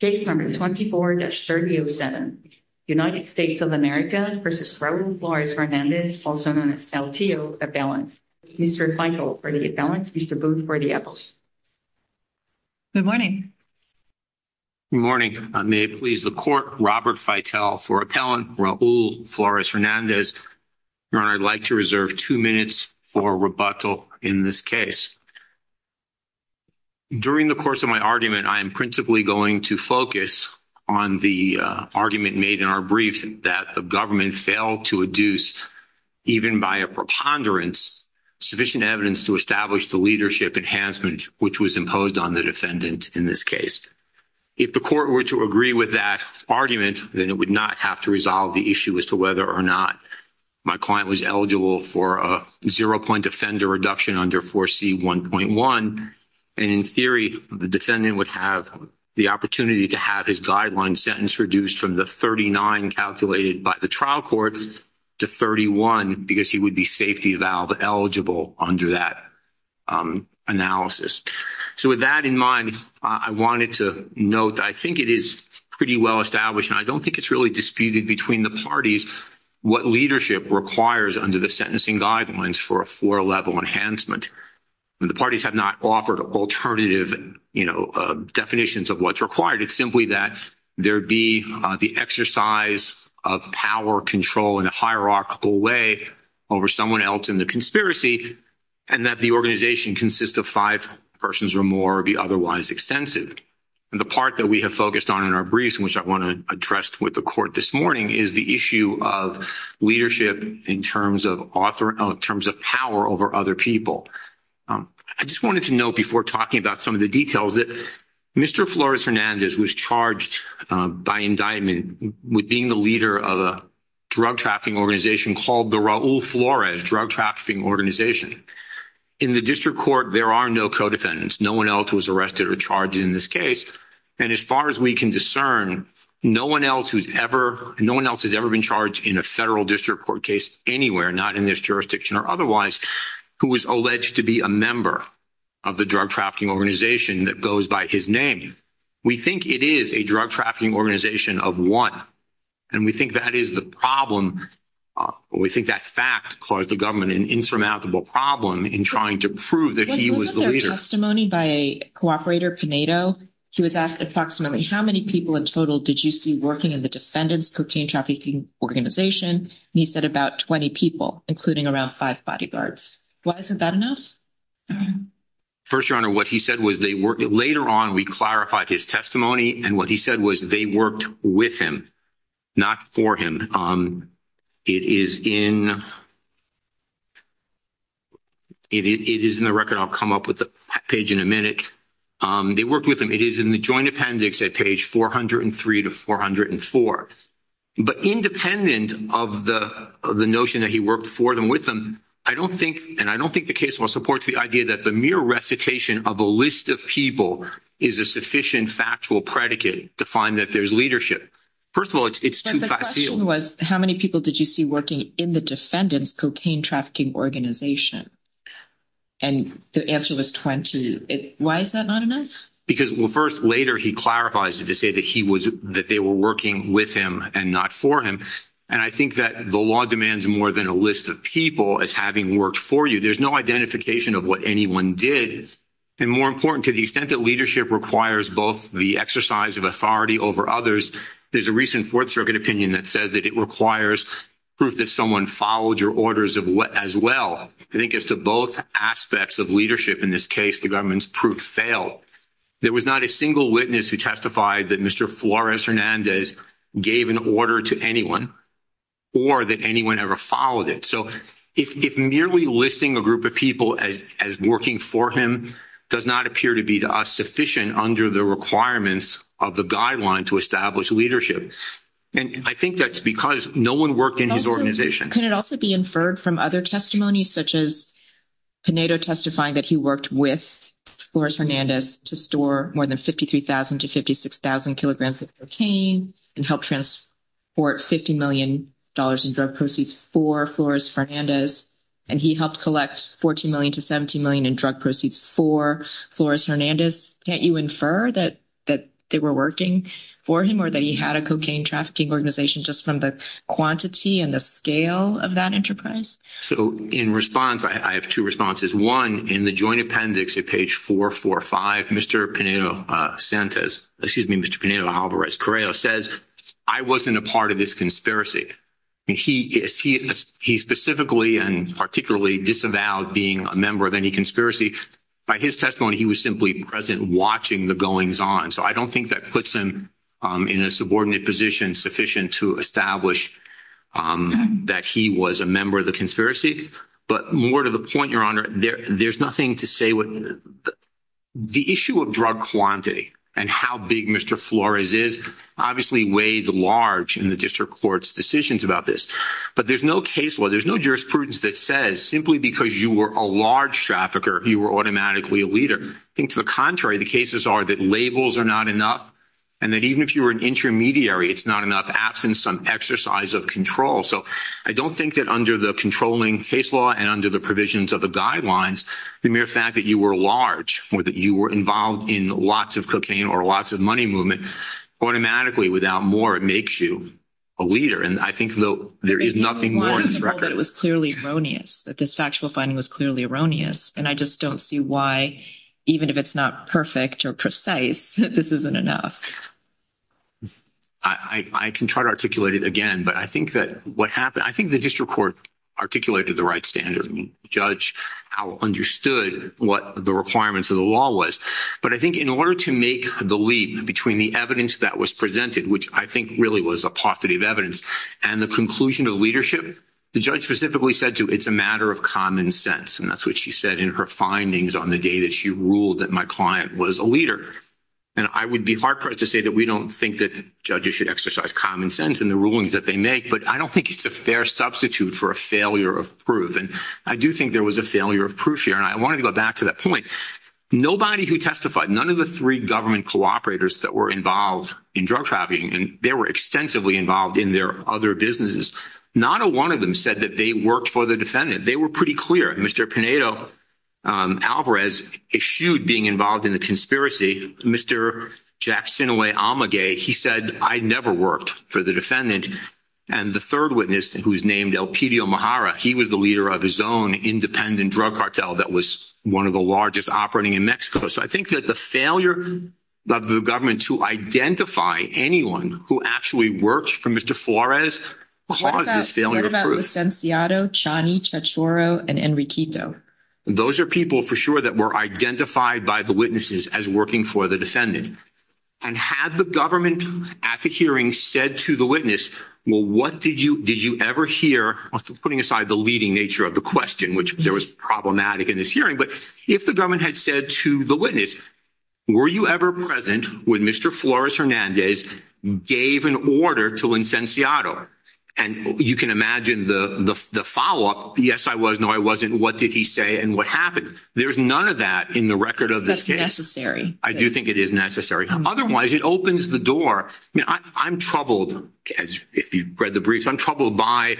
Case number 24-3007. United States of America v. Raul Flores-Hernandez, also known as LTO, Appellant. Mr. Feitel for the Appellant, Mr. Booth for the Appellant. Good morning. Good morning. May it please the Court, Robert Feitel for Appellant, Raul Flores-Hernandez. Your Honor, I'd like to reserve two minutes for rebuttal in this case. During the course of my argument, I am principally going to focus on the argument made in our briefs that the government failed to adduce, even by a preponderance, sufficient evidence to establish the leadership enhancement which was imposed on the defendant in this case. If the Court were to agree with that argument, then it would not have to resolve the issue as to whether or not my client was eligible for a zero-point offender reduction under 4C1.1. And in theory, the defendant would have the opportunity to have his guideline sentence reduced from the 39 calculated by the trial court to 31 because he would be safety eval eligible under that analysis. So with that in mind, I wanted to note that I think it is pretty well established, and I don't think it's really disputed between the parties, what leadership requires under the sentencing guidelines for a four-level enhancement. The parties have not offered alternative definitions of what's required. It's simply that there be the exercise of power control in a hierarchical way over someone else in the conspiracy, and that the organization consist of five persons or more or be otherwise extensive. The part that we have focused on in our briefs, which I want to address with the Court this morning, is the issue of leadership in terms of power over other people. I just wanted to note before talking about some of the details that Mr. Flores-Hernandez was charged by indictment with being the leader of a drug trafficking organization called the Raul Flores Drug Trafficking Organization. In the district court, there are no co-defendants. No one else was arrested or charged in this case. And as far as we can discern, no one else has ever been charged in a federal district court case anywhere, not in this jurisdiction or otherwise, who was alleged to be a member of the drug trafficking organization that goes by his name. We think it is a drug trafficking organization of one, and we think that is the problem. We think that fact caused the government an insurmountable problem in trying to prove that he was the leader. Wasn't there testimony by a cooperator, Pinedo? He was asked approximately how many people in total did you see working in the defendant's cocaine trafficking organization? And he said about 20 people, including around five bodyguards. Why isn't that enough? First, Your Honor, what he said was later on we clarified his testimony, and what he said was they worked with him, not for him. It is in the record. I'll come up with the page in a minute. They worked with him. It is in the joint appendix at page 403 to 404. But independent of the notion that he worked for them, with them, I don't think, and I don't think the case supports the idea that the mere recitation of a list of people is a sufficient factual predicate to find that there is leadership. First of all, it is too facile. The question was how many people did you see working in the defendant's cocaine trafficking organization? And the answer was 20. Why is that not enough? Because first, later, he clarifies it to say that they were working with him and not for him. And I think that the law demands more than a list of people as having worked for you. There's no identification of what anyone did. And more important, to the extent that leadership requires both the exercise of authority over others, there's a recent Fourth Circuit opinion that says that it requires proof that someone followed your orders as well. I think as to both aspects of leadership in this case, the government's proof failed. There was not a single witness who testified that Mr. Flores Hernandez gave an order to anyone or that anyone ever followed it. So if merely listing a group of people as working for him does not appear to be to us sufficient under the requirements of the guideline to establish leadership, and I think that's because no one worked in his organization. Can it also be inferred from other testimonies, such as Pinedo testifying that he worked with Flores Hernandez to store more than 53,000 to 56,000 kilograms of cocaine and help transport $50 million in drug proceeds for Flores Hernandez, and he helped collect $14 million to $17 million in drug proceeds for Flores Hernandez? Can't you infer that they were working for him or that he had a cocaine trafficking organization just from the quantity and the scale of that enterprise? So in response, I have two responses. One, in the joint appendix at page 445, Mr. Pinedo Alvarez-Correo says, I wasn't a part of this conspiracy. He specifically and particularly disavowed being a member of any conspiracy. By his testimony, he was simply present watching the goings-on. So I don't think that puts him in a subordinate position sufficient to establish that he was a member of the conspiracy. But more to the point, Your Honor, there's nothing to say. The issue of drug quantity and how big Mr. Flores is obviously weighed large in the district court's decisions about this. But there's no case law, there's no jurisprudence that says simply because you were a large trafficker, you were automatically a leader. I think to the contrary, the cases are that labels are not enough and that even if you were an intermediary, it's not enough, absent some exercise of control. So I don't think that under the controlling case law and under the provisions of the guidelines, the mere fact that you were large or that you were involved in lots of cocaine or lots of money movement, automatically, without more, it makes you a leader. And I think there is nothing more— It was clearly erroneous, that this factual finding was clearly erroneous. And I just don't see why, even if it's not perfect or precise, this isn't enough. I can try to articulate it again, but I think that what happened— I think the district court articulated the right standard. The judge understood what the requirements of the law was. But I think in order to make the leap between the evidence that was presented, which I think really was a positive evidence, and the conclusion of leadership, the judge specifically said to, it's a matter of common sense. And that's what she said in her findings on the day that she ruled that my client was a leader. And I would be hard-pressed to say that we don't think that judges should exercise common sense in the rulings that they make, but I don't think it's a fair substitute for a failure of proof. And I do think there was a failure of proof here, and I wanted to go back to that point. Nobody who testified, none of the three government cooperators that were involved in drug trafficking, and they were extensively involved in their other businesses, not a one of them said that they worked for the defendant. They were pretty clear. Mr. Pinedo-Alvarez eschewed being involved in the conspiracy. Mr. Jack Sinoway-Amaguey, he said, I never worked for the defendant. And the third witness, who was named Elpidio Mahara, he was the leader of his own independent drug cartel that was one of the largest operating in Mexico. So I think that the failure of the government to identify anyone who actually worked for Mr. Flores caused this failure of proof. Those are people, for sure, that were identified by the witnesses as working for the defendant. And had the government at the hearing said to the witness, well, what did you ever hear? Putting aside the leading nature of the question, which there was problematic in this hearing, but if the government had said to the witness, were you ever present when Mr. Flores Hernandez gave an order to Licenciado? And you can imagine the follow-up, yes, I was, no, I wasn't. What did he say and what happened? There's none of that in the record of this case. I do think it is necessary. Otherwise, it opens the door. I'm troubled, if you've read the briefs, I'm troubled by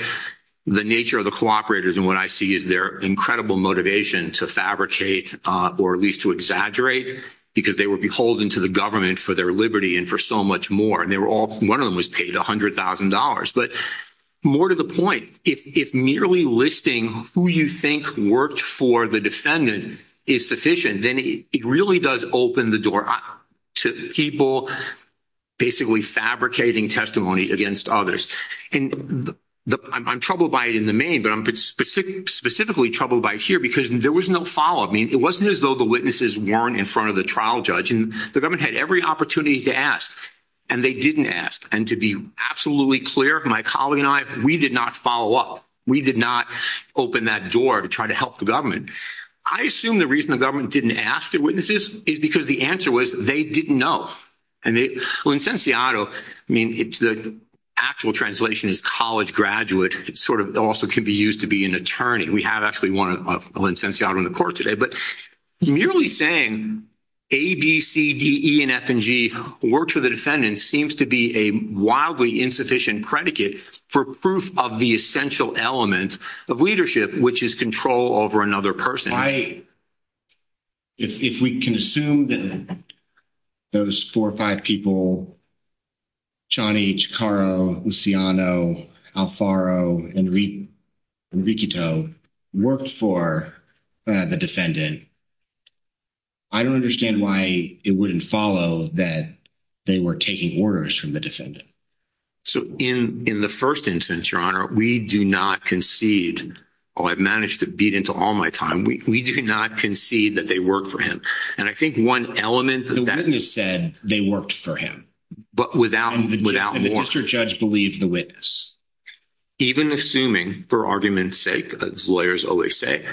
the nature of the cooperators and what I see is their incredible motivation to fabricate or at least to exaggerate, because they were beholden to the government for their liberty and for so much more. One of them was paid $100,000. But more to the point, if merely listing who you think worked for the defendant is sufficient, then it really does open the door to people basically fabricating testimony against others. And I'm troubled by it in the main, but I'm specifically troubled by it here, because there was no follow-up. It wasn't as though the witnesses weren't in front of the trial judge. The government had every opportunity to ask, and they didn't ask. And to be absolutely clear, my colleague and I, we did not follow up. We did not open that door to try to help the government. I assume the reason the government didn't ask the witnesses is because the answer was they didn't know. And Licenciado, I mean, the actual translation is college graduate. It also can be used to be an attorney. We have actually one of Licenciado in the court today. But merely saying A, B, C, D, E, and F and G worked for the defendant seems to be a wildly insufficient predicate for proof of the essential element of leadership, which is control over another person. If we can assume that those four or five people, Chani, Chikaro, Luciano, Alfaro, Enriquito, worked for the defendant, I don't understand why it wouldn't follow that they were taking orders from the defendant. So in the first instance, Your Honor, we do not concede, oh, I've managed to beat into all my time, we do not concede that they worked for him. And I think one element of that- The witness said they worked for him. But without more- And the district judge believed the witness. Even assuming, for argument's sake, as lawyers always say,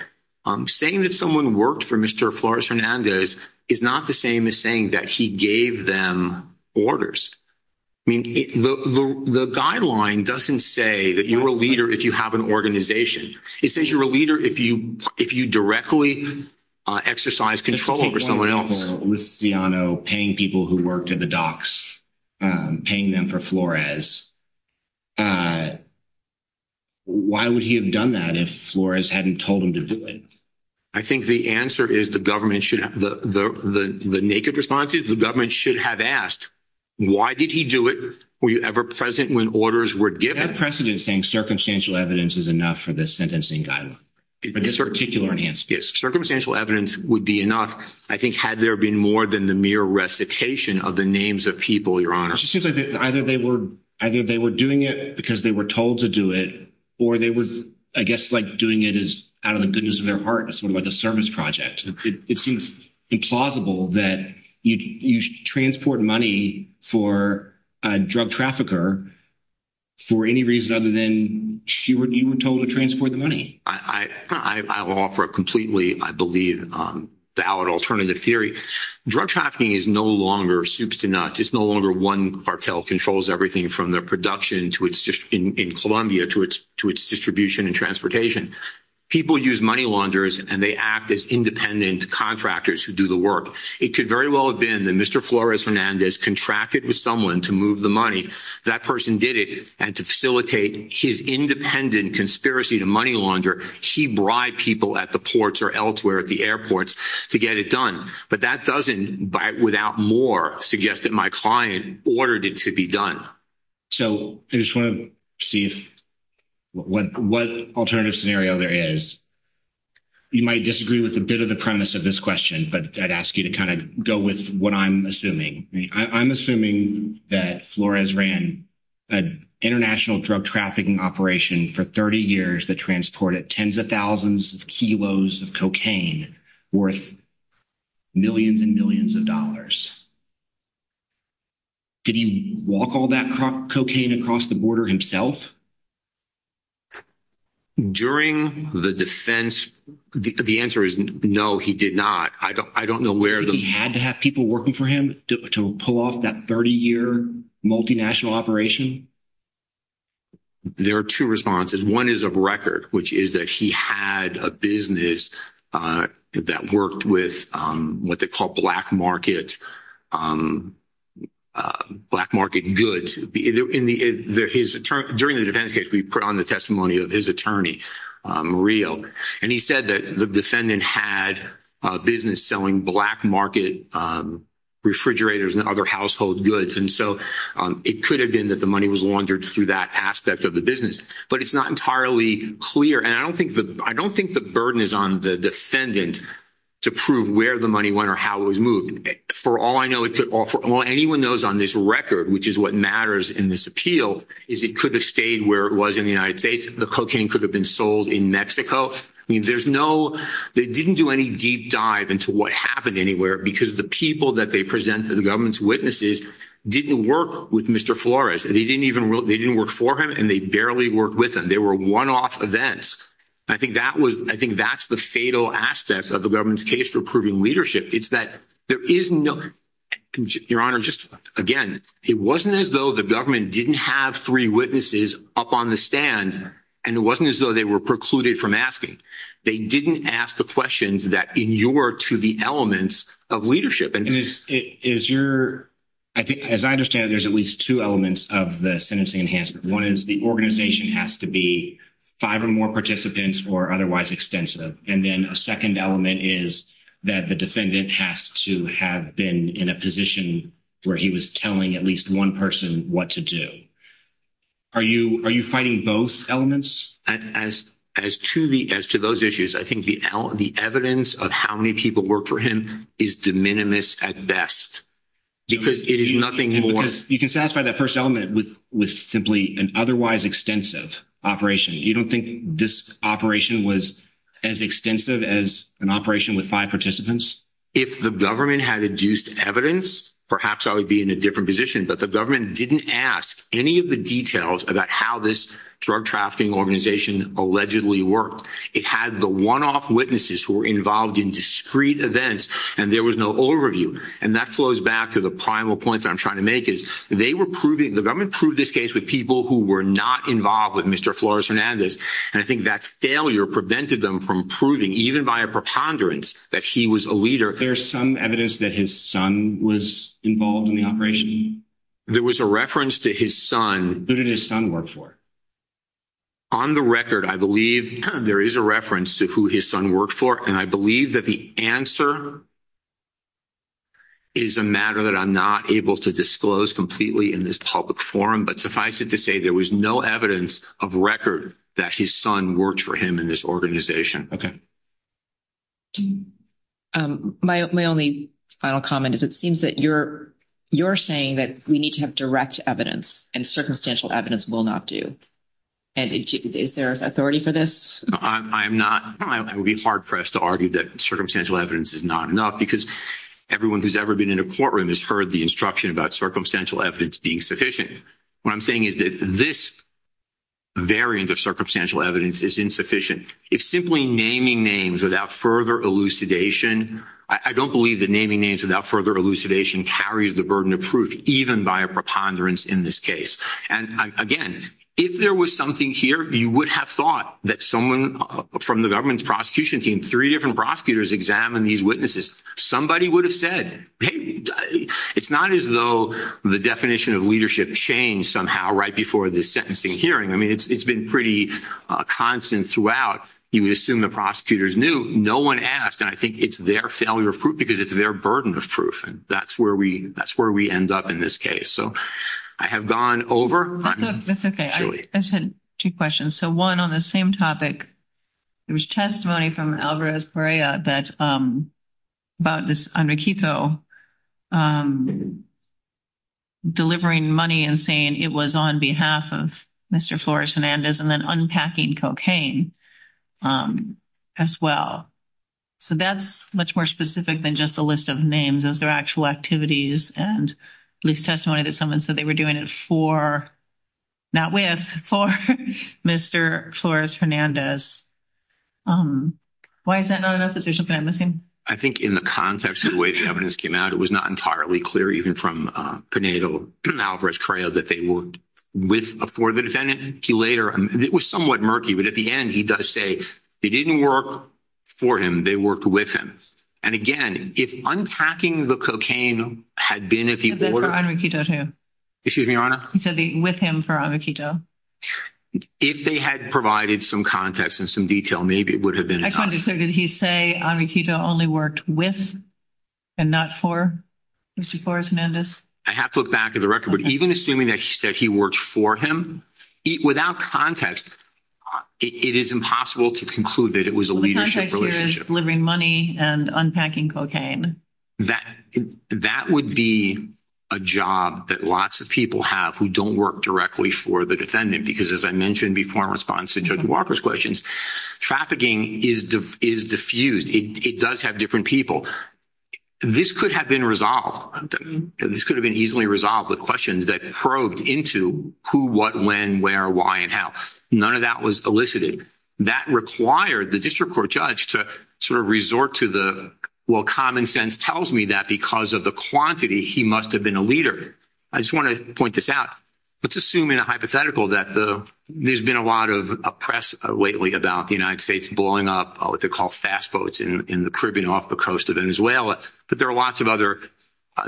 saying that someone worked for Mr. Flores Hernandez is not the same as saying that he gave them orders. I mean, the guideline doesn't say that you're a leader if you have an organization. It says you're a leader if you directly exercise control over someone else. Take, for example, Luciano paying people who worked at the docks, paying them for Flores. Why would he have done that if Flores hadn't told him to do it? I think the answer is the government should- The naked response is the government should have asked, why did he do it? Were you ever present when orders were given? You have precedent saying circumstantial evidence is enough for this sentencing guideline. For this particular enhancement. Circumstantial evidence would be enough, I think, had there been more than the mere recitation of the names of people, Your Honor. It just seems like either they were doing it because they were told to do it, or they were, I guess, like doing it out of the goodness of their heart, sort of like a service project. It seems implausible that you transport money for a drug trafficker for any reason other than you were told to transport the money. I will offer a completely, I believe, valid alternative theory. Drug trafficking is no longer soups to nuts. It's no longer one cartel controls everything from the production in Colombia to its distribution and transportation. People use money launderers, and they act as independent contractors who do the work. It could very well have been that Mr. Flores Hernandez contracted with someone to move the money. That person did it, and to facilitate his independent conspiracy to money launder, he bribed people at the ports or elsewhere, at the airports, to get it done. But that doesn't, without more, suggest that my client ordered it to be done. So I just want to see what alternative scenario there is. You might disagree with a bit of the premise of this question, but I'd ask you to kind of go with what I'm assuming. I'm assuming that Flores ran an international drug trafficking operation for 30 years that transported tens of thousands of kilos of cocaine worth millions and millions of dollars. Did he walk all that cocaine across the border himself? During the defense, the answer is no, he did not. Do you think he had to have people working for him to pull off that 30-year multinational operation? There are two responses. One is of record, which is that he had a business that worked with what they call black market goods. During the defense case, we put on the testimony of his attorney, Real. And he said that the defendant had a business selling black market refrigerators and other household goods. And so it could have been that the money was laundered through that aspect of the business. But it's not entirely clear. And I don't think the burden is on the defendant to prove where the money went or how it was moved. For all I know, it could offer, well, anyone knows on this record, which is what matters in this appeal, is it could have stayed where it was in the United States. The cocaine could have been sold in Mexico. I mean, there's no, they didn't do any deep dive into what happened anywhere. Because the people that they presented, the government's witnesses, didn't work with Mr. Flores. They didn't even, they didn't work for him and they barely worked with him. They were one-off events. I think that was, I think that's the fatal aspect of the government's case for proving leadership. It's that there is no, Your Honor, just again, it wasn't as though the government didn't have three witnesses up on the stand. And it wasn't as though they were precluded from asking. They didn't ask the questions that inured to the elements of leadership. And is your, as I understand it, there's at least two elements of the sentencing enhancement. One is the organization has to be five or more participants or otherwise extensive. And then a second element is that the defendant has to have been in a position where he was telling at least one person what to do. Are you fighting both elements? As to those issues, I think the evidence of how many people worked for him is de minimis at best. Because it is nothing more. You can satisfy that first element with simply an otherwise extensive operation. You don't think this operation was as extensive as an operation with five participants? If the government had induced evidence, perhaps I would be in a different position. But the government didn't ask any of the details about how this drug-trafficking organization allegedly worked. It had the one-off witnesses who were involved in discrete events. And there was no overview. And that flows back to the primal point that I'm trying to make is the government proved this case with people who were not involved with Mr. Flores-Hernandez. And I think that failure prevented them from proving, even by a preponderance, that he was a leader. There's some evidence that his son was involved in the operation? There was a reference to his son. Who did his son work for? On the record, I believe there is a reference to who his son worked for. And I believe that the answer is a matter that I'm not able to disclose completely in this public forum. But suffice it to say there was no evidence of record that his son worked for him in this organization. My only final comment is it seems that you're saying that we need to have direct evidence. And circumstantial evidence will not do. And is there authority for this? I would be hard-pressed to argue that circumstantial evidence is not enough because everyone who's ever been in a courtroom has heard the instruction about circumstantial evidence being sufficient. What I'm saying is that this variant of circumstantial evidence is insufficient. If simply naming names without further elucidation – I don't believe that naming names without further elucidation carries the burden of proof, even by a preponderance in this case. And again, if there was something here, you would have thought that someone from the government's prosecution team, three different prosecutors examined these witnesses. Somebody would have said, hey, it's not as though the definition of leadership changed somehow right before this sentencing hearing. I mean, it's been pretty constant throughout. You would assume the prosecutors knew. No one asked. And I think it's their failure of proof because it's their burden of proof. And that's where we end up in this case. So I have gone over. That's okay. I just had two questions. So one on the same topic. There was testimony from Alvarez Correa about this Enriquito delivering money and saying it was on behalf of Mr. Flores Hernandez and then unpacking cocaine as well. So that's much more specific than just a list of names. Those are actual activities and at least testimony that someone said they were doing it for, not with, for Mr. Flores Hernandez. Why is that not enough? Is there something I'm missing? I think in the context of the way the evidence came out, it was not entirely clear, even from Pinedo Alvarez Correa, that they were with or for the defendant. It was somewhat murky. But at the end, he does say they didn't work for him. They worked with him. And again, if unpacking the cocaine had been at the order… He said that for Enriquito too. Excuse me, Your Honor? He said with him for Enriquito. If they had provided some context and some detail, maybe it would have been enough. I can't be sure. Did he say Enriquito only worked with and not for Mr. Flores Hernandez? I have to look back at the record. But even assuming that he said he worked for him, without context, it is impossible to conclude that it was a leadership relationship. The context here is delivering money and unpacking cocaine. That would be a job that lots of people have who don't work directly for the defendant. Because as I mentioned before in response to Judge Walker's questions, trafficking is diffused. It does have different people. This could have been resolved. This could have been easily resolved with questions that probed into who, what, when, where, why, and how. None of that was elicited. That required the district court judge to sort of resort to the, well, common sense tells me that because of the quantity, he must have been a leader. I just want to point this out. Let's assume in a hypothetical that there's been a lot of press lately about the United States blowing up what they call fast boats in the Caribbean off the coast of Venezuela. But there are lots of other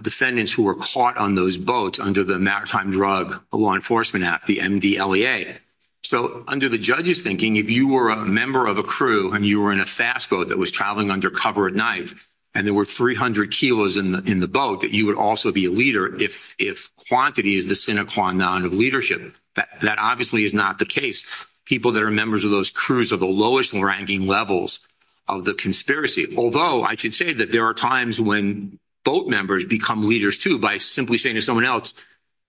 defendants who were caught on those boats under the Maritime Drug Law Enforcement Act, the MDLEA. So under the judge's thinking, if you were a member of a crew and you were in a fast boat that was traveling under cover at night, and there were 300 kilos in the boat, that you would also be a leader if quantity is the sine qua non of leadership. That obviously is not the case. People that are members of those crews are the lowest ranking levels of the conspiracy. Although I should say that there are times when boat members become leaders, too, by simply saying to someone else,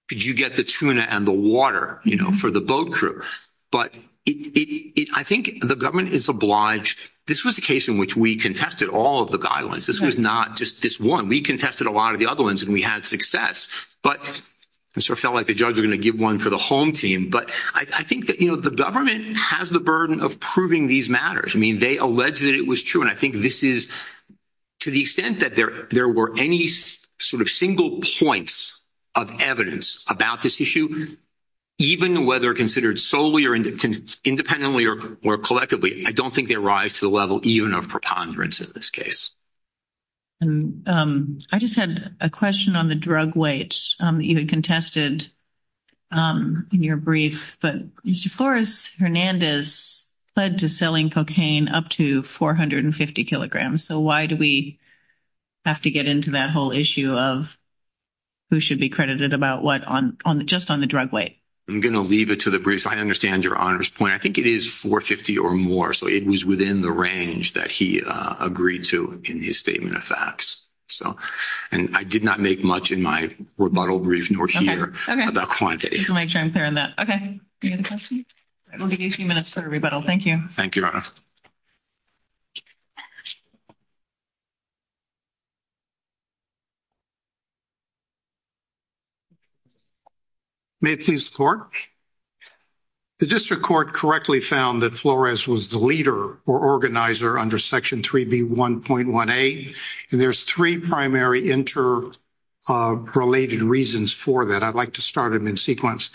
could you get the tuna and the water, you know, for the boat crew? But I think the government is obliged. This was a case in which we contested all of the guidelines. This was not just this one. We contested a lot of the other ones, and we had success. But it sort of felt like the judge was going to give one for the home team. But I think that, you know, the government has the burden of proving these matters. I mean, they alleged that it was true. And I think this is to the extent that there were any sort of single points of evidence about this issue, even whether considered solely or independently or collectively, I don't think they rise to the level even of preponderance in this case. I just had a question on the drug weight you had contested in your brief. But Mr. Flores-Hernandez pled to selling cocaine up to 450 kilograms. So why do we have to get into that whole issue of who should be credited about what just on the drug weight? I'm going to leave it to the briefs. I understand your Honor's point. I think it is 450 or more. So it was within the range that he agreed to in his statement of facts. And I did not make much in my rebuttal brief nor here about quantity. Just to make sure I'm clear on that. Any other questions? We'll give you a few minutes for a rebuttal. Thank you. Thank you, Your Honor. May it please the Court? The District Court correctly found that Flores was the leader or organizer under Section 3B1.1a. And there's three primary interrelated reasons for that. I'd like to start them in sequence.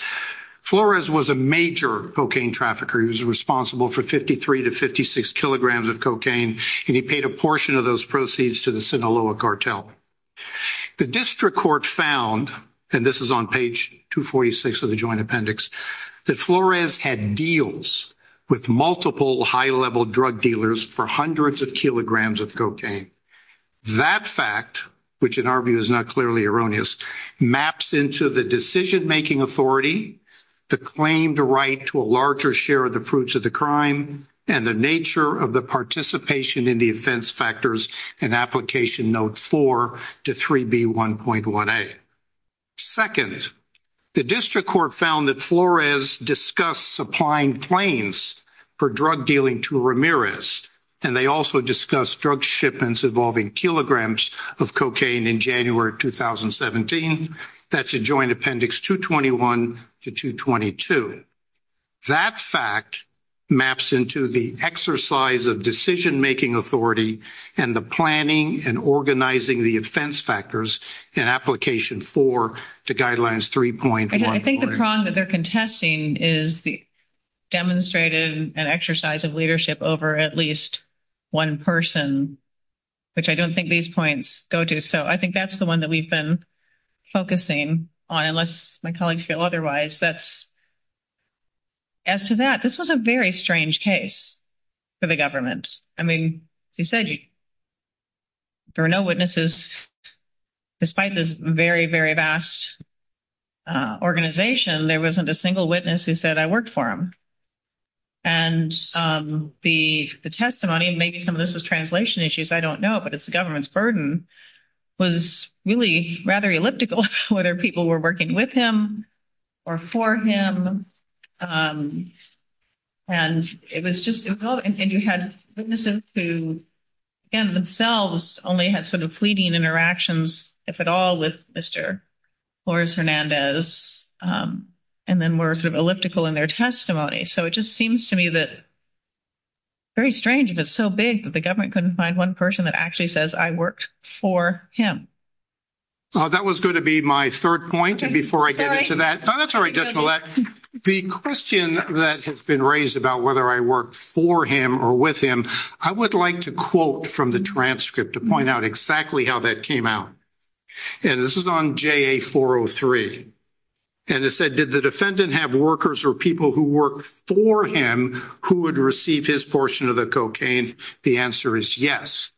Flores was a major cocaine trafficker. He was responsible for 53 to 56 kilograms of cocaine. And he paid a portion of those proceeds to the Sinaloa cartel. The District Court found, and this is on page 246 of the Joint Appendix, that Flores had deals with multiple high-level drug dealers for hundreds of kilograms of cocaine. That fact, which in our view is not clearly erroneous, maps into the decision-making authority, the claimed right to a larger share of the fruits of the crime, and the nature of the participation in the offense factors in Application Note 4 to 3B1.1a. Second, the District Court found that Flores discussed supplying planes for drug dealing to Ramirez. And they also discussed drug shipments involving kilograms of cocaine in January 2017. That's in Joint Appendix 221 to 222. But that fact maps into the exercise of decision-making authority and the planning and organizing the offense factors in Application 4 to Guidelines 3.1. I think the prong that they're contesting is the demonstrated exercise of leadership over at least one person, which I don't think these points go to. So I think that's the one that we've been focusing on, unless my colleagues feel otherwise. As to that, this was a very strange case for the government. I mean, as you said, there were no witnesses. Despite this very, very vast organization, there wasn't a single witness who said, I worked for him. And the testimony, and maybe some of this was translation issues, I don't know, but it's the government's burden, was really rather elliptical, whether people were working with him or for him. And it was just, and you had witnesses who, again, themselves only had sort of fleeting interactions, if at all, with Mr. Flores-Hernandez, and then were sort of elliptical in their testimony. So it just seems to me that very strange, and it's so big, that the government couldn't find one person that actually says, I worked for him. That was going to be my third point, and before I get into that. Oh, that's all right, Judge Millett. The question that has been raised about whether I worked for him or with him, I would like to quote from the transcript to point out exactly how that came out. And this is on JA-403. And it said, did the defendant have workers or people who worked for him who would receive his portion of the cocaine? The answer is yes.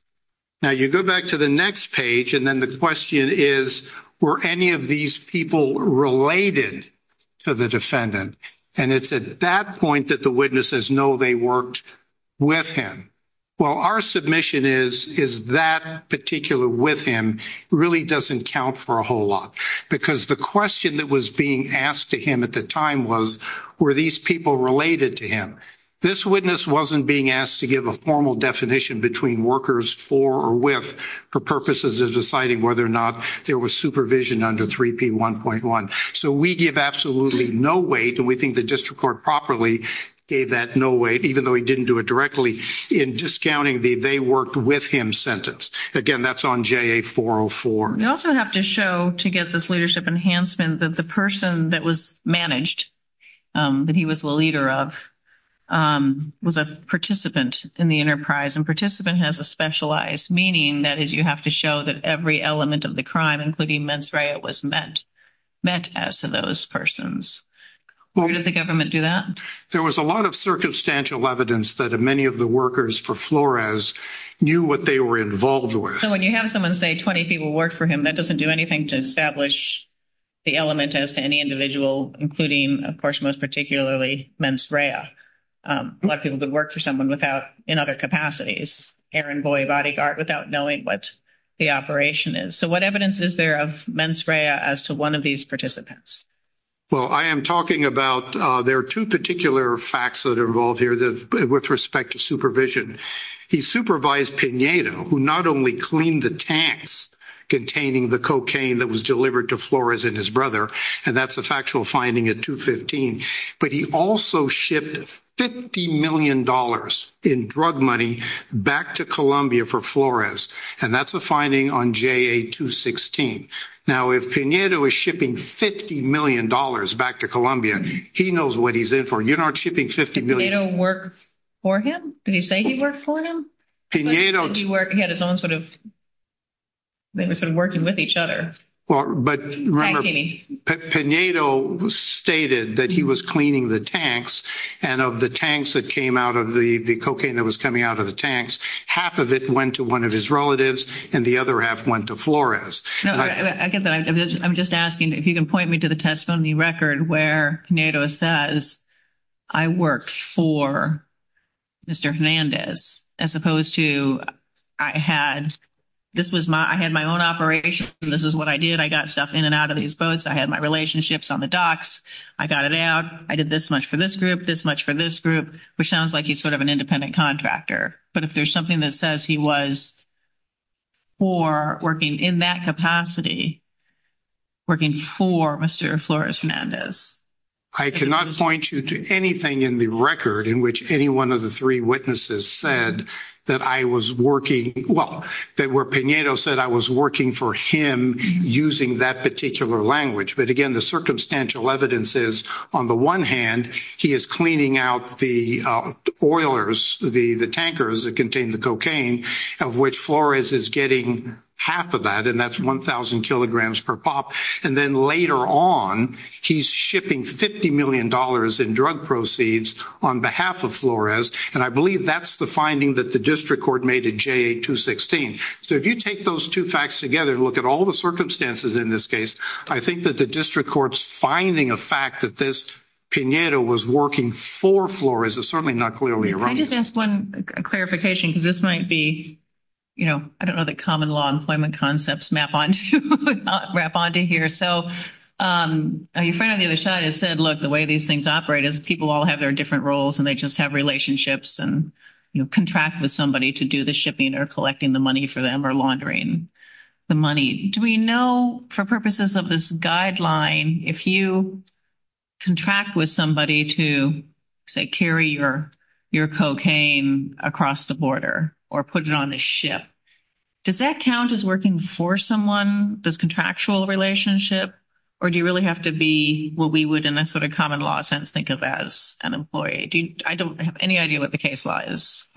Now, you go back to the next page, and then the question is, were any of these people related to the defendant? And it's at that point that the witnesses know they worked with him. Well, our submission is, is that particular with him really doesn't count for a whole lot. Because the question that was being asked to him at the time was, were these people related to him? This witness wasn't being asked to give a formal definition between workers for or with for purposes of deciding whether or not there was supervision under 3P1.1. So we give absolutely no weight, and we think the district court properly gave that no weight, even though he didn't do it directly, in discounting the they worked with him sentence. Again, that's on JA-404. We also have to show, to get this leadership enhancement, that the person that was managed, that he was the leader of, was a participant in the enterprise. And participant has a specialized meaning. That is, you have to show that every element of the crime, including mens rea, was met as to those persons. Where did the government do that? There was a lot of circumstantial evidence that many of the workers for Flores knew what they were involved with. So when you have someone say 20 people worked for him, that doesn't do anything to establish the element as to any individual, including, of course, most particularly, mens rea. A lot of people could work for someone without, in other capacities, errand boy, bodyguard, without knowing what the operation is. So what evidence is there of mens rea as to one of these participants? Well, I am talking about, there are two particular facts that are involved here with respect to supervision. He supervised Pinedo, who not only cleaned the tanks containing the cocaine that was delivered to Flores and his brother, and that's a factual finding at 215, but he also shipped $50 million in drug money back to Colombia for Flores. And that's a finding on JA 216. Now, if Pinedo is shipping $50 million back to Colombia, he knows what he's in for. You're not shipping $50 million. Did Pinedo work for him? Did he say he worked for him? He had his own sort of, they were sort of working with each other. But remember, Pinedo stated that he was cleaning the tanks, and of the tanks that came out of the cocaine that was coming out of the tanks, half of it went to one of his relatives and the other half went to Flores. I get that. I'm just asking if you can point me to the testimony record where Pinedo says, I worked for Mr. Hernandez as opposed to I had my own operation, this is what I did, I got stuff in and out of these boats, I had my relationships on the docks, I got it out, I did this much for this group, this much for this group, which sounds like he's sort of an independent contractor. But if there's something that says he was for working in that capacity, working for Mr. Flores Hernandez. I cannot point you to anything in the record in which any one of the three witnesses said that I was working, well, that where Pinedo said I was working for him using that particular language. But again, the circumstantial evidence is, on the one hand, he is cleaning out the oilers, the tankers that contained the cocaine, of which Flores is getting half of that, and that's 1,000 kilograms per pop. And then later on, he's shipping $50 million in drug proceeds on behalf of Flores, and I believe that's the finding that the district court made at JA 216. So if you take those two facts together and look at all the circumstances in this case, I think that the district court's finding of fact that this Pinedo was working for Flores is certainly not clearly around. Can I just ask one clarification, because this might be, you know, I don't know that common law employment concepts wrap onto here. So your friend on the other side has said, look, the way these things operate is people all have their different roles and they just have relationships and contract with somebody to do the shipping or collecting the money for them or laundering the money. Do we know, for purposes of this guideline, if you contract with somebody to, say, carry your cocaine across the border or put it on a ship, does that count as working for someone, this contractual relationship, or do you really have to be what we would, in a sort of common law sense, think of as an employee? I don't have any idea what the case law is.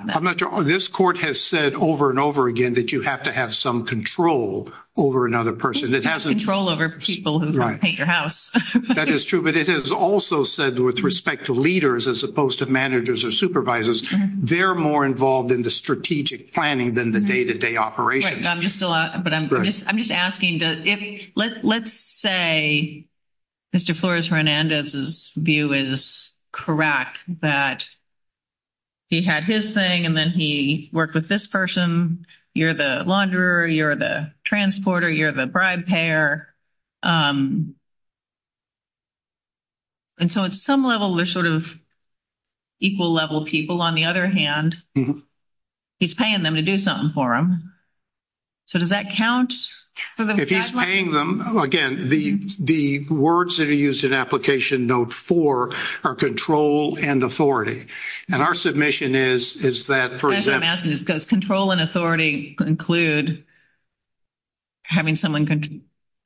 This court has said over and over again that you have to have some control over another person. It has control over people who paint your house. That is true. But it has also said with respect to leaders as opposed to managers or supervisors, they're more involved in the strategic planning than the day-to-day operations. I'm just asking, let's say Mr. Flores Hernandez's view is correct that he had his thing and then he worked with this person, you're the launderer, you're the transporter, you're the bribe payer, and so at some level they're sort of equal level people. On the other hand, he's paying them to do something for him. So does that count? If he's paying them, again, the words that are used in Application Note 4 are control and authority. And our submission is that, for example, Does control and authority include having someone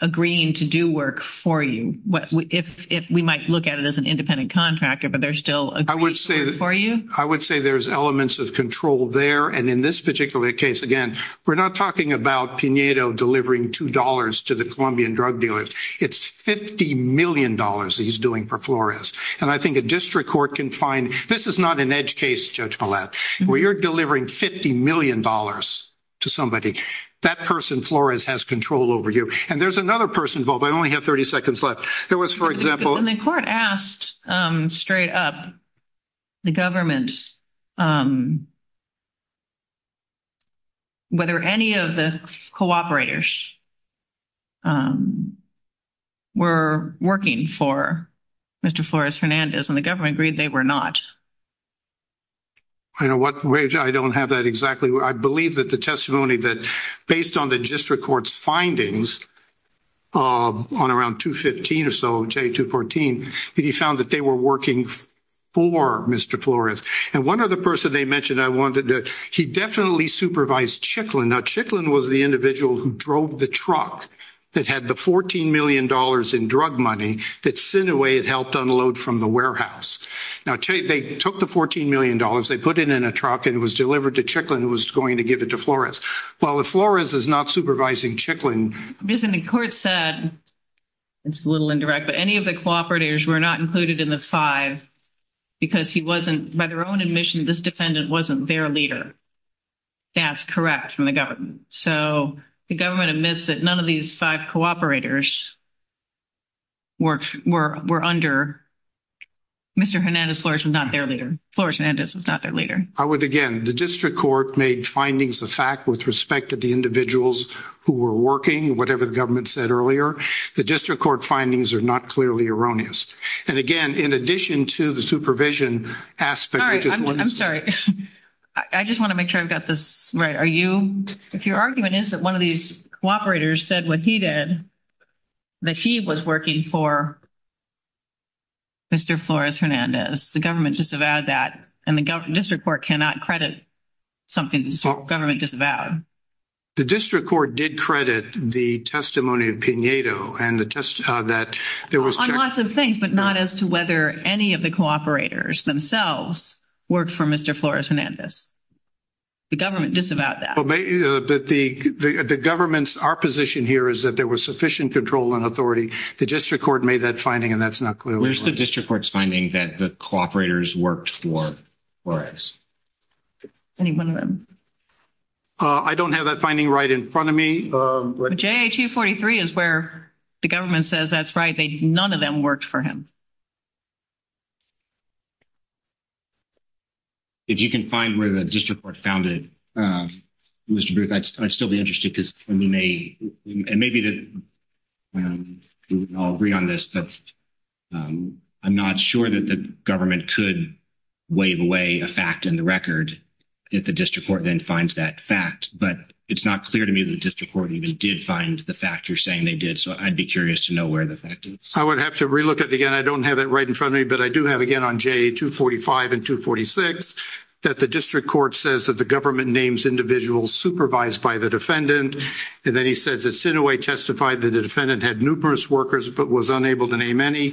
agreeing to do work for you? We might look at it as an independent contractor, but they're still agreeing to work for you? I would say there's elements of control there, and in this particular case, again, we're not talking about Pinedo delivering $2 to the Colombian drug dealers. It's $50 million that he's doing for Flores. And I think a district court can find, this is not an edge case, Judge Millett, where you're delivering $50 million to somebody. That person, Flores, has control over you. And there's another person involved. I only have 30 seconds left. There was, for example The court asked, straight up, the government, whether any of the cooperators were working for Mr. Flores-Fernandez, and the government agreed they were not. I don't have that exactly. I believe that the testimony that, based on the district court's findings, on around 215 or so, J214, that he found that they were working for Mr. Flores. And one other person they mentioned, he definitely supervised Chicklin. Now, Chicklin was the individual who drove the truck that had the $14 million in drug money that Sineway had helped unload from the warehouse. Now, they took the $14 million, they put it in a truck, and it was delivered to Chicklin, who was going to give it to Flores. Well, if Flores is not supervising Chicklin. The court said, it's a little indirect, but any of the cooperators were not included in the five because he wasn't, by their own admission, this defendant wasn't their leader. That's correct from the government. So the government admits that none of these five cooperators were under Mr. Fernandez. Flores was not their leader. Flores-Fernandez was not their leader. I would, again, the district court made findings of fact with respect to the individuals who were working, whatever the government said earlier. The district court findings are not clearly erroneous. And, again, in addition to the supervision aspect. I'm sorry. I just want to make sure I've got this right. If your argument is that one of these cooperators said what he did, that he was working for Mr. Flores-Fernandez, the government disavowed that, and the district court cannot credit something the government disavowed. The district court did credit the testimony of Pinedo. On lots of things, but not as to whether any of the cooperators themselves worked for Mr. Flores-Fernandez. The government disavowed that. But the government's, our position here is that there was sufficient control and authority. The district court made that finding, and that's not clearly. Where's the district court's finding that the cooperators worked for Flores? Any one of them. I don't have that finding right in front of me. But JA-243 is where the government says that's right. None of them worked for him. If you can find where the district court found it, Mr. Booth, I'd still be interested because we may, and maybe I'll agree on this, but I'm not sure that the government could waive away a fact in the record if the district court then finds that fact. But it's not clear to me that the district court even did find the fact you're saying they did. So I'd be curious to know where the fact is. I would have to relook at it again. I don't have that right in front of me. But I do have again on JA-245 and 246 that the district court says that the government names individuals supervised by the defendant. And then he says that Sinoway testified that the defendant had numerous workers but was unable to name any.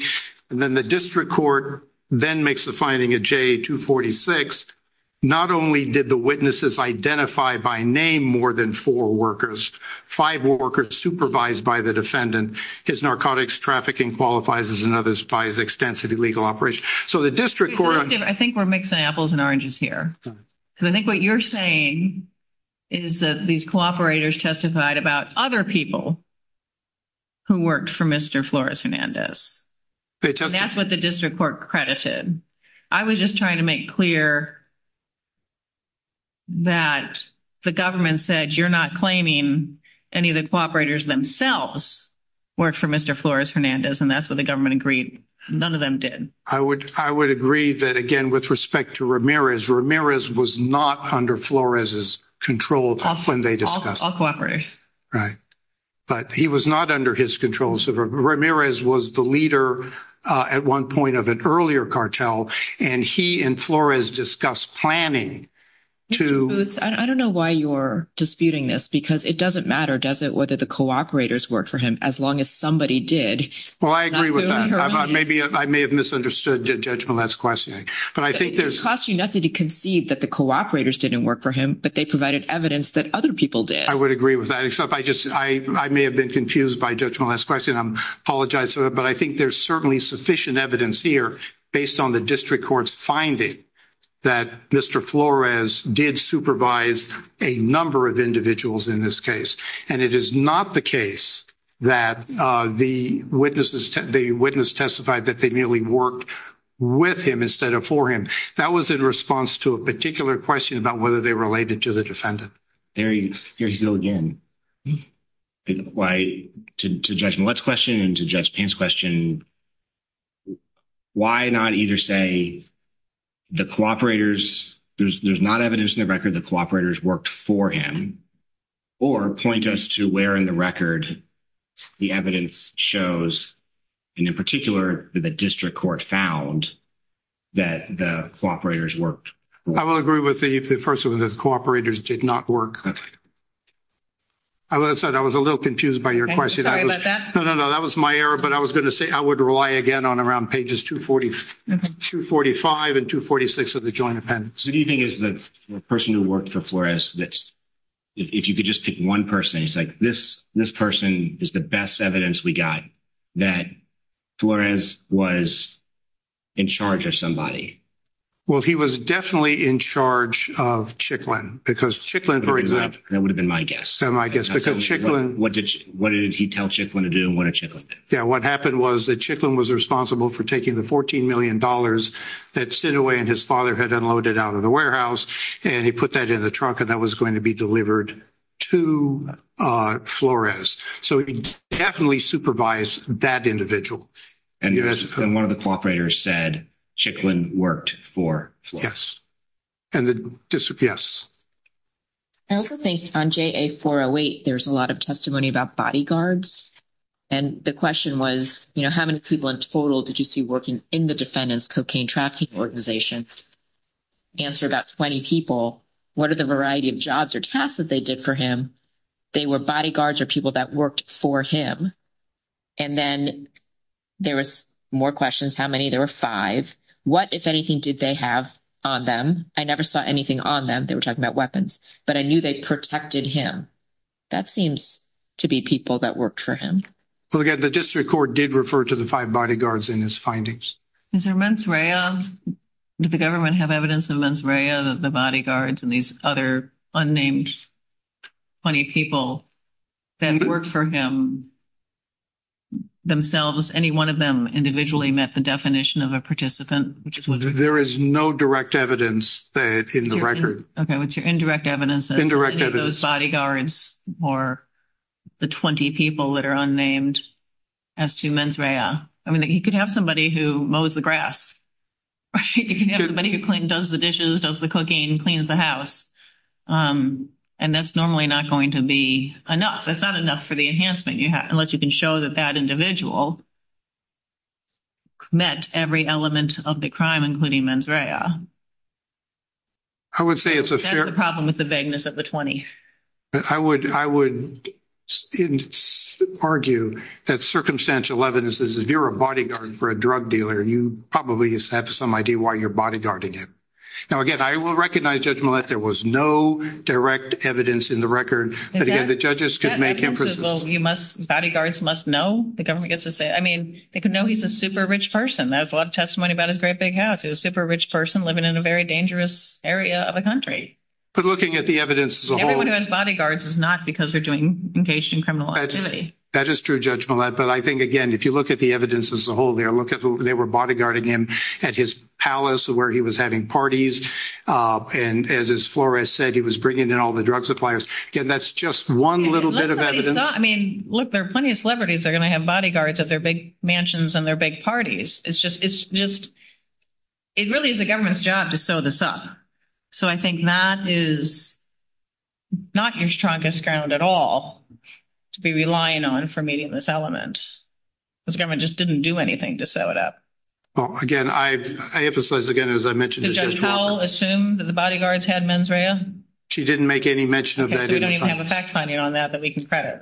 And then the district court then makes the finding at JA-246, not only did the witnesses identify by name more than four workers, five were workers supervised by the defendant. His narcotics trafficking qualifies as another by his extensive legal operation. So the district court – I think we're mixing apples and oranges here. Because I think what you're saying is that these cooperators testified about other people who worked for Mr. Flores-Hernandez. That's what the district court credited. I was just trying to make clear that the government said you're not claiming any of the cooperators themselves worked for Mr. Flores-Hernandez, and that's what the government agreed none of them did. I would agree that, again, with respect to Ramirez, Ramirez was not under Flores' control when they discussed – All cooperators. Right. But he was not under his control. So Ramirez was the leader at one point of an earlier cartel, and he and Flores discussed planning to – I don't know why you're disputing this, because it doesn't matter, does it, whether the cooperators worked for him, as long as somebody did. Well, I agree with that. I may have misunderstood Judge Millett's question. But I think there's – It costs you nothing to concede that the cooperators didn't work for him, but they provided evidence that other people did. I would agree with that, except I just – I may have been confused by Judge Millett's question. I apologize for that. But I think there's certainly sufficient evidence here based on the district court's finding that Mr. Flores did supervise a number of individuals in this case. And it is not the case that the witnesses – the witness testified that they merely worked with him instead of for him. That was in response to a particular question about whether they related to the defendant. There you go again. To Judge Millett's question and to Judge Payne's question, why not either say the cooperators – there's not evidence in the record that cooperators worked for him or point us to where in the record the evidence shows, and in particular, the district court found that the cooperators worked? I will agree with the first one that cooperators did not work. I was a little confused by your question. Sorry about that. No, no, no. That was my error, but I was going to say I would rely again on around pages 245 and 246 of the Joint Appendix. So do you think it's the person who worked for Flores that's – if you could just pick one person, it's like this person is the best evidence we got that Flores was in charge of somebody? Well, he was definitely in charge of Chicklin because Chicklin, for example – That would have been my guess. That would have been my guess because Chicklin – What did he tell Chicklin to do and what did Chicklin do? Yeah, what happened was that Chicklin was responsible for taking the $14 million that Sinaway and his father had unloaded out of the warehouse, and he put that in the trunk, and that was going to be delivered to Flores. So he definitely supervised that individual. And one of the cooperators said Chicklin worked for Flores. Yes. And the – yes. I also think on JA-408, there's a lot of testimony about bodyguards. And the question was, you know, how many people in total did you see working in the defendant's cocaine trafficking organization? Answer, about 20 people. What are the variety of jobs or tasks that they did for him? They were bodyguards or people that worked for him. And then there was more questions. How many? There were five. What, if anything, did they have on them? I never saw anything on them. They were talking about weapons. But I knew they protected him. That seems to be people that worked for him. Well, again, the district court did refer to the five bodyguards in his findings. Is there mens rea? Did the government have evidence of mens rea, the bodyguards, and these other unnamed 20 people that worked for him themselves? Any one of them individually met the definition of a participant? There is no direct evidence in the record. Okay, what's your indirect evidence? Indirect evidence. Those bodyguards or the 20 people that are unnamed as to mens rea. I mean, he could have somebody who mows the grass. He could have somebody who does the dishes, does the cooking, cleans the house. And that's normally not going to be enough. That's not enough for the enhancement, unless you can show that that individual met every element of the crime, including mens rea. I would say it's a fair – I would argue that circumstantial evidence is, if you're a bodyguard for a drug dealer, you probably have some idea why you're bodyguarding him. Now, again, I will recognize, Judge Millett, there was no direct evidence in the record. But, again, the judges could make inferences. Bodyguards must know. The government gets to say – I mean, they could know he's a super rich person. That's a lot of testimony about his great big house. He was a super rich person living in a very dangerous area of the country. But looking at the evidence as a whole – Everyone who has bodyguards is not because they're engaged in criminal activity. That is true, Judge Millett. But I think, again, if you look at the evidence as a whole there, look at who they were bodyguarding him at his palace where he was having parties. And as Flores said, he was bringing in all the drug suppliers. Again, that's just one little bit of evidence. I mean, look, there are plenty of celebrities that are going to have bodyguards at their big mansions and their big parties. It's just – it really is the government's job to sew this up. So I think that is not your strongest ground at all to be relying on for meeting this element. This government just didn't do anything to sew it up. Well, again, I emphasize, again, as I mentioned to Judge Walker – Did Judge Powell assume that the bodyguards had mens rea? She didn't make any mention of that. Okay, so we don't even have a fact finding on that that we can credit.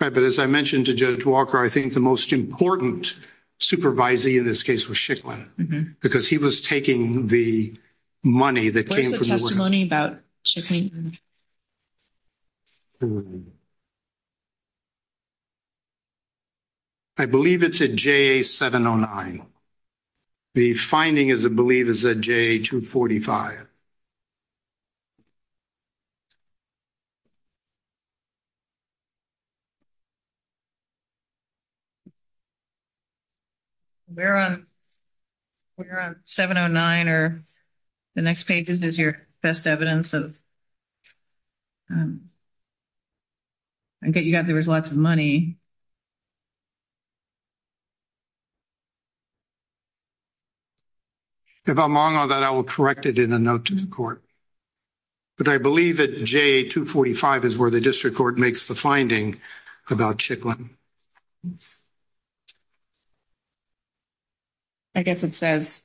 Right, but as I mentioned to Judge Walker, I think the most important supervisee in this case was Schicklin because he was taking the money that came from the women. What is the testimony about Schicklin? I believe it's a JA709. The finding is, I believe, is a JA245. We're on – we're on 709, or the next page is your best evidence of – I get you got there was lots of money. If I'm wrong on that, I will correct it in a note to the court. But I believe that JA245 is where the district court makes the finding about Schicklin. I guess it says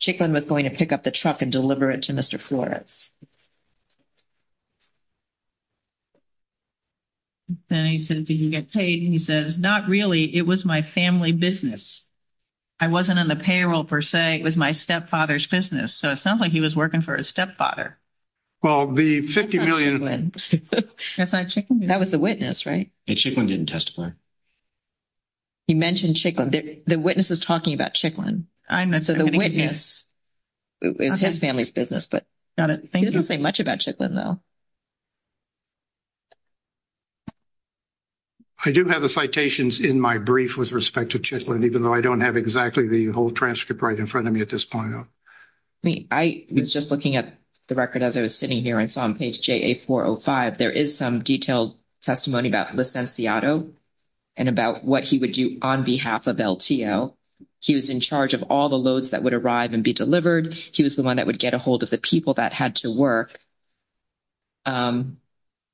Schicklin was going to pick up the truck and deliver it to Mr. Flores. Then he said, did you get paid? And he says, not really. It was my family business. I wasn't in the payroll per se. It was my stepfather's business. So it sounds like he was working for his stepfather. Well, the $50 million – That's not Schicklin? That was the witness, right? Schicklin didn't testify. He mentioned Schicklin. The witness is talking about Schicklin. So the witness is his family's business. Got it. Thank you. He doesn't say much about Schicklin, though. I do have the citations in my brief with respect to Schicklin, even though I don't have exactly the whole transcript right in front of me at this point. I was just looking at the record as I was sitting here and saw on page JA405, there is some detailed testimony about Licenciado and about what he would do on behalf of LTO. He was in charge of all the loads that would arrive and be delivered. He was the one that would get a hold of the people that had to work.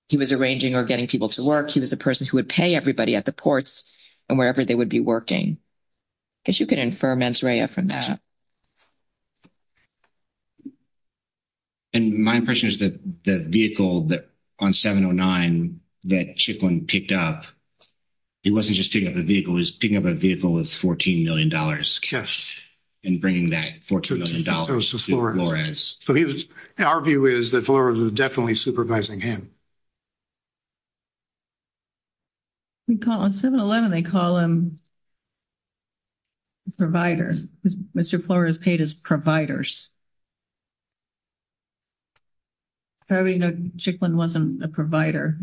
He was arranging or getting people to work. He was the person who would pay everybody at the ports and wherever they would be working. I guess you could infer, Mansouriah, from that. And my impression is that the vehicle on 709 that Schicklin picked up, he wasn't just picking up a vehicle. He was picking up a vehicle with $14 million in cash. And bringing that $14 million to Flores. Our view is that Flores was definitely supervising him. On 711, they call him provider. Mr. Flores paid his providers. However, you know, Schicklin wasn't a provider.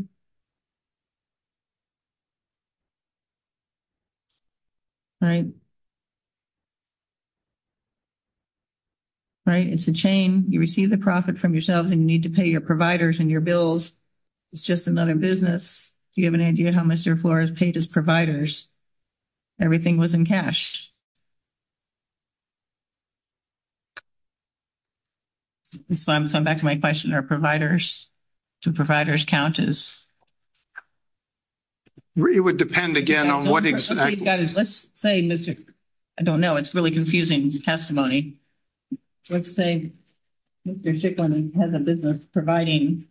Right? It's a chain. You receive the profit from yourselves and you need to pay your providers and your bills. It's just another business. Do you have an idea how Mr. Flores paid his providers? Everything was in cash. So I'm back to my question. Are providers? Do providers count as? It would depend, again, on what exactly. Let's say Mr. I don't know. It's really confusing testimony. Let's say Mr. Schicklin has a business providing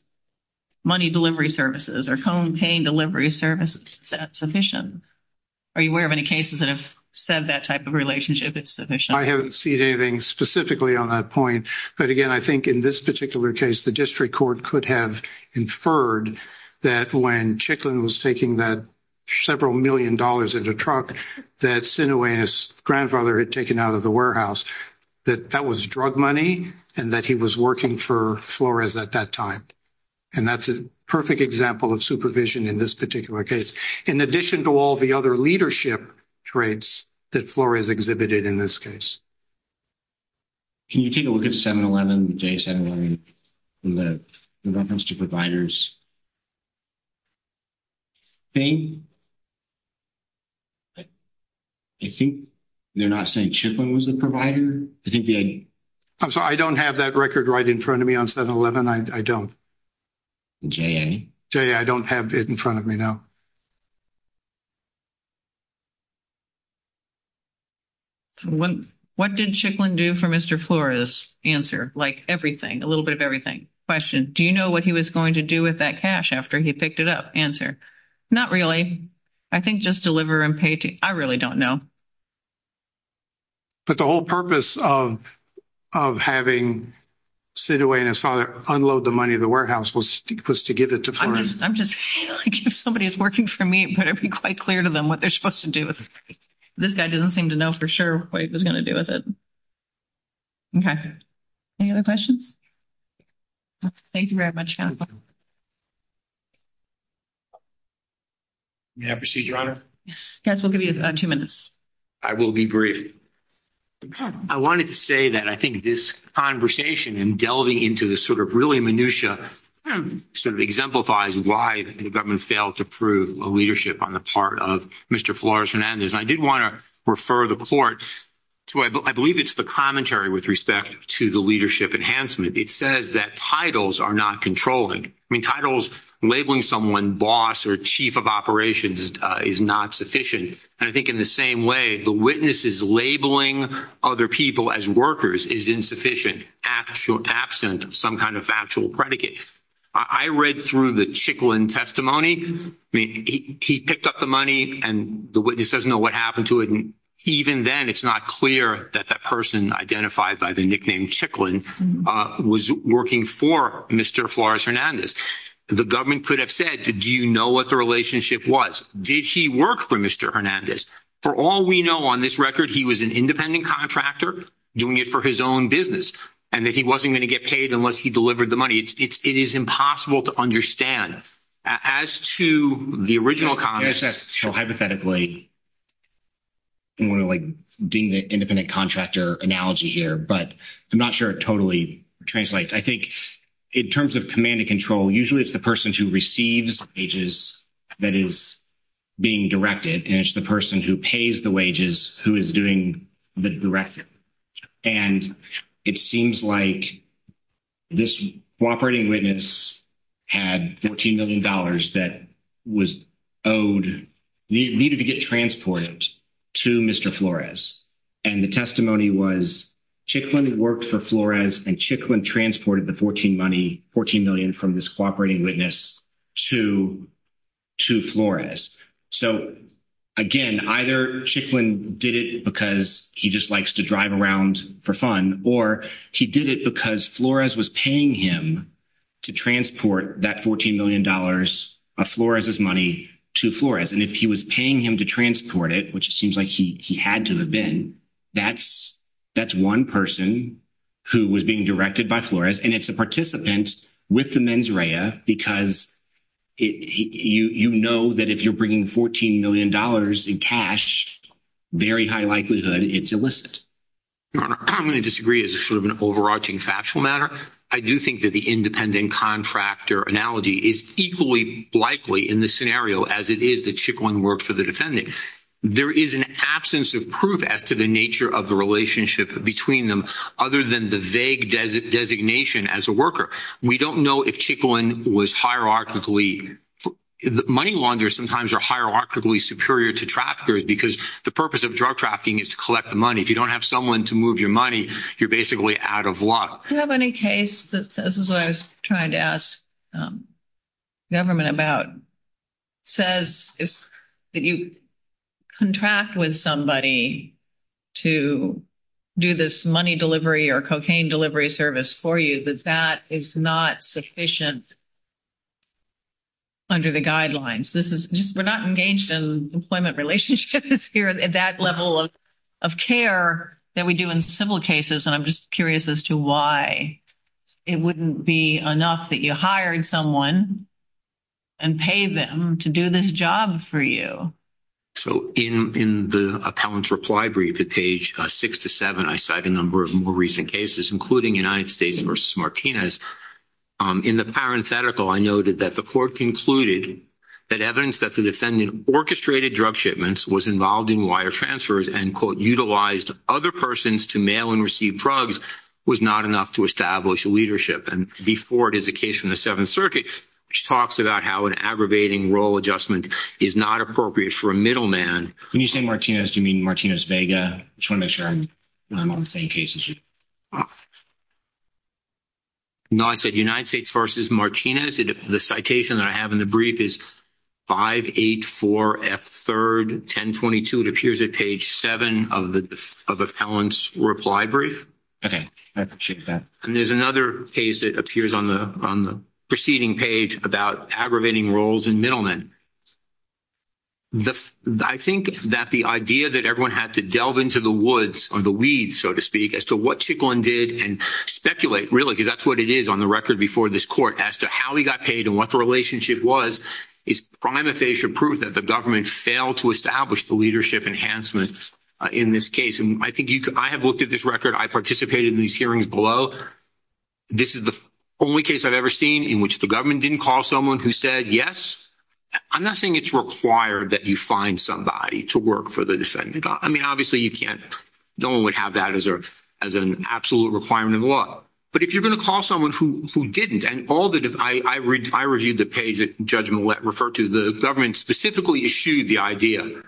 money delivery services. Are home paying delivery services sufficient? Are you aware of any cases that have said that type of relationship is sufficient? I haven't seen anything specifically on that point. But, again, I think in this particular case, the district court could have inferred that when Schicklin was taking that several million dollars in the truck that Sineway and his grandfather had taken out of the warehouse, that that was drug money and that he was working for Flores at that time. And that's a perfect example of supervision in this particular case, in addition to all the other leadership traits that Flores exhibited in this case. Can you take a look at 711, the J711, in reference to providers? I think they're not saying Schicklin was the provider. I think they had. I'm sorry. I don't have that record right in front of me on 711. I don't. JA. I don't have it in front of me now. What did Schicklin do for Mr. Flores? Answer. Like, everything. A little bit of everything. Question. Do you know what he was going to do with that cash after he picked it up? Answer. Not really. I think just deliver and pay to. I really don't know. But the whole purpose of having Sineway and his father unload the money in the warehouse was to give it to Flores. I'm just feeling like if somebody is working for me, it better be quite clear to them what they're supposed to do with it. This guy doesn't seem to know for sure what he was going to do with it. Okay. Any other questions? Thank you very much. May I proceed, Your Honor? Yes. We'll give you two minutes. I will be brief. I wanted to say that I think this conversation and delving into the sort of really minutia sort of exemplifies why the government failed to prove a leadership on the part of Mr. Flores Hernandez. I did want to refer the court to, I believe it's the commentary with respect to the leadership enhancement. It says that titles are not controlling. I mean, titles, labeling someone boss or chief of operations is not sufficient. And I think in the same way, the witnesses labeling other people as workers is insufficient, actual absent, some kind of actual predicate. I read through the Chicklin testimony. I mean, he picked up the money and the witness doesn't know what happened to it. And even then it's not clear that that person identified by the nickname Chicklin was working for Mr. Flores Hernandez. The government could have said, do you know what the relationship was? Did he work for Mr. For all we know on this record, he was an independent contractor doing it for his own business and that he wasn't going to get paid unless he delivered the money. It's it's, it is impossible to understand as to the original comments. So hypothetically. And we're like doing the independent contractor analogy here, but I'm not sure it totally translates. I think in terms of command and control, usually it's the person who receives pages that is being directed. And it's the person who pays the wages, who is doing the director. And it seems like this operating witness had $14 million that was owed to Mr. And the testimony was Chicklin worked for Flores and Chicklin transported the 14 money, 14 million from this cooperating witness to, to Flores. So, again, either Chicklin did it because he just likes to drive around for fun, or he did it because Flores was paying him to transport that $14 million of Flores's money to Flores. And if he was paying him to transport it, which it seems like he, he had to have been that's that's one person who was being directed by Flores. And it's a participant with the mens rea because it, you, you know that if you're bringing $14 million in cash, very high likelihood, it's illicit. I'm going to disagree as a sort of an overarching factual matter. I do think that the independent contractor analogy is equally likely in the scenario as it is that Chicklin worked for the defendant. There is an absence of proof as to the nature of the relationship between them. Other than the vague desert designation as a worker. We don't know if Chicklin was hierarchically money launders. Sometimes are hierarchically superior to traffickers because the purpose of drug trafficking is to collect the money. If you don't have someone to move your money, you're basically out of luck. I don't have any case that says, this is what I was trying to ask government about says is that you contract with somebody to do this money delivery or cocaine delivery service for you, that that is not sufficient under the guidelines. This is just, we're not engaged in employment relationships here at that level of, of care that we do in civil cases. And I'm just curious as to why it wouldn't be enough that you hired someone and pay them to do this job for you. So in the appellant's reply brief at page six to seven, I cite a number of more recent cases, including United States versus Martinez. In the parenthetical, I noted that the court concluded that evidence that the defendant orchestrated drug shipments was involved in wire transfers and quote, mobilized other persons to mail and receive drugs was not enough to establish a leadership. And before it is a case from the seventh circuit, which talks about how an aggravating role adjustment is not appropriate for a middleman. When you say Martinez, do you mean Martinez Vega? I just want to make sure I'm on the same case as you. No, I said United States versus Martinez. The citation that I have in the brief is five, eight, four F third, 10 22. It appears at page seven of the, of appellant's reply brief. Okay. And there's another case that appears on the, on the proceeding page about aggravating roles in middlemen. I think that the idea that everyone had to delve into the woods or the weeds, so to speak as to what she gone did and speculate really, because that's what it is on the record before this court as to how he got paid and what the relationship was is prima facie proof that the government failed to establish the leadership enhancement in this case. And I think you could, I have looked at this record. I participated in these hearings below. This is the only case I've ever seen in which the government didn't call someone who said, yes, I'm not saying it's required that you find somebody to work for the defendant. I mean, obviously you can't, no one would have that as a, as an absolute requirement of law, but if you're going to call someone who, who didn't, and all that, if I, I read, I reviewed the page that judgment let refer to the government specifically issued the idea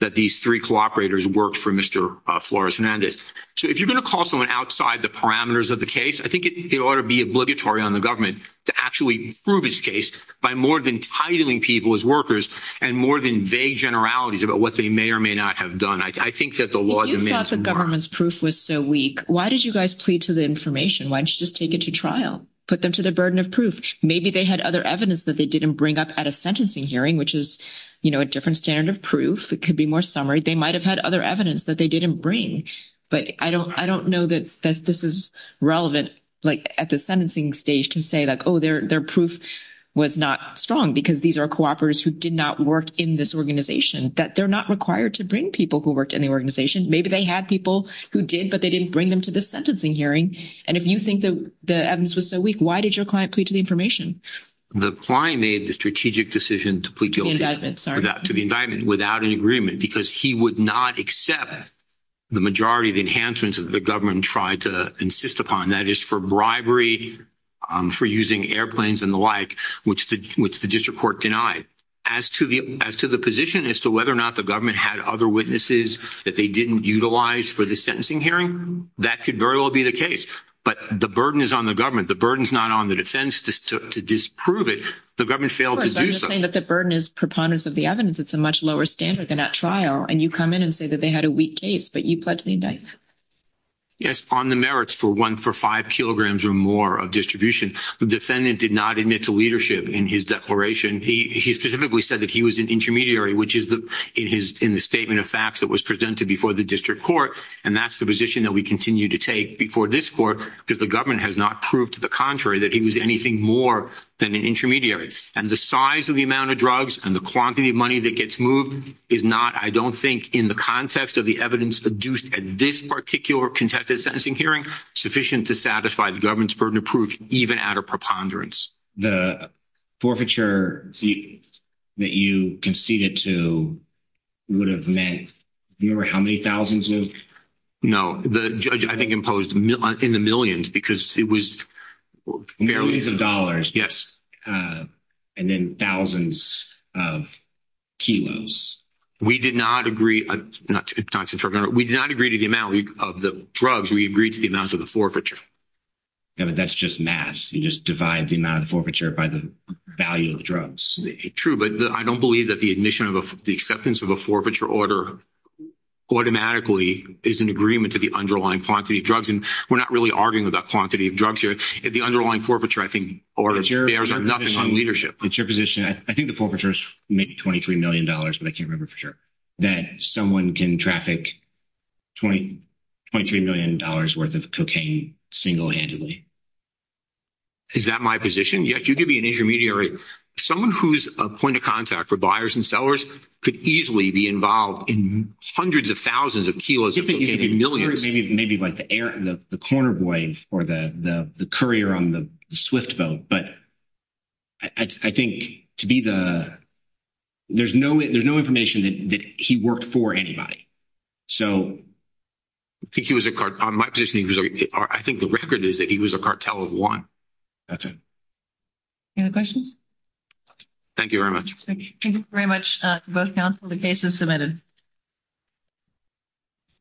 that these three cooperators worked for Mr. Flores Hernandez. So if you're going to call someone outside the parameters of the case, I think it ought to be obligatory on the government to actually prove his case by more than titling people as workers and more than vague generalities about what they may or may not have done. I think that the law demands a government's proof was so weak. Why did you guys plead to the information? Why don't you just take it to trial, put them to the burden of proof. Maybe they had other evidence that they didn't bring up at a sentencing hearing, which is, you know, a different standard of proof. It could be more summary. They might've had other evidence that they didn't bring, but I don't, I don't know that this is relevant, like at the sentencing stage to say like, Oh, they're, their proof was not strong because these are cooperators who did not work in this organization that they're not required to bring people who worked in the organization. Maybe they had people who did, but they didn't bring them to the sentencing hearing. And if you think that the evidence was so weak, why did your client plead to the information? The client made the strategic decision to plead guilty to the indictment without an agreement, because he would not accept the majority of the enhancements that the government tried to insist upon. That is for bribery for using airplanes and the like, which, which the district court denied as to the, as to the position as to whether or not the government had other witnesses that they didn't utilize for the sentencing hearing. That could very well be the case, but the burden is on the government. The burden is not on the defense to disprove it. The government failed to do so. That the burden is preponderance of the evidence. It's a much lower standard than at trial. And you come in and say that they had a weak case, but you pledged the indictment. Yes. On the merits for one for five kilograms or more of distribution, the defendant did not admit to leadership in his declaration. He specifically said that he was an intermediary, which is the in his, in the statement of facts that was presented before the district court. And that's the position that we continue to take before this court, because the government has not proved to the contrary that he was anything more than an intermediary. And the size of the amount of drugs and the quantity of money that gets moved is not, I don't think in the context of the evidence adduced at this particular contested sentencing hearing sufficient to satisfy the government's burden of proof, even at a preponderance. The forfeiture that you conceded to would have meant, you remember how many thousands of. No, the judge, I think, imposed in the millions because it was millions of dollars. And then thousands of kilos. We did not agree. We did not agree to the amount of the drugs. We agreed to the amounts of the forfeiture. Yeah, but that's just mass. You just divide the amount of the forfeiture by the value of drugs. True. But I don't believe that the admission of the acceptance of a forfeiture order automatically is an agreement to the underlying quantity of drugs. And we're not really arguing about quantity of drugs here at the underlying forfeiture. I think orders are nothing on leadership. It's your position. I think the forfeiture is maybe $23 million, but I can't remember for sure that someone can traffic 20, $23 million worth of cocaine single-handedly. Is that my position? Yes, you could be an intermediary. Someone who's a point of contact for buyers and sellers could easily be involved in hundreds of thousands of kilos of cocaine and millions. Maybe like the corner boy or the courier on the swift boat. But I think to be the, there's no information that he worked for anybody. I think he was a cartel. I think the record is that he was a cartel of one. Okay. Any other questions? Thank you very much. Thank you very much. Both counsel, the case is submitted.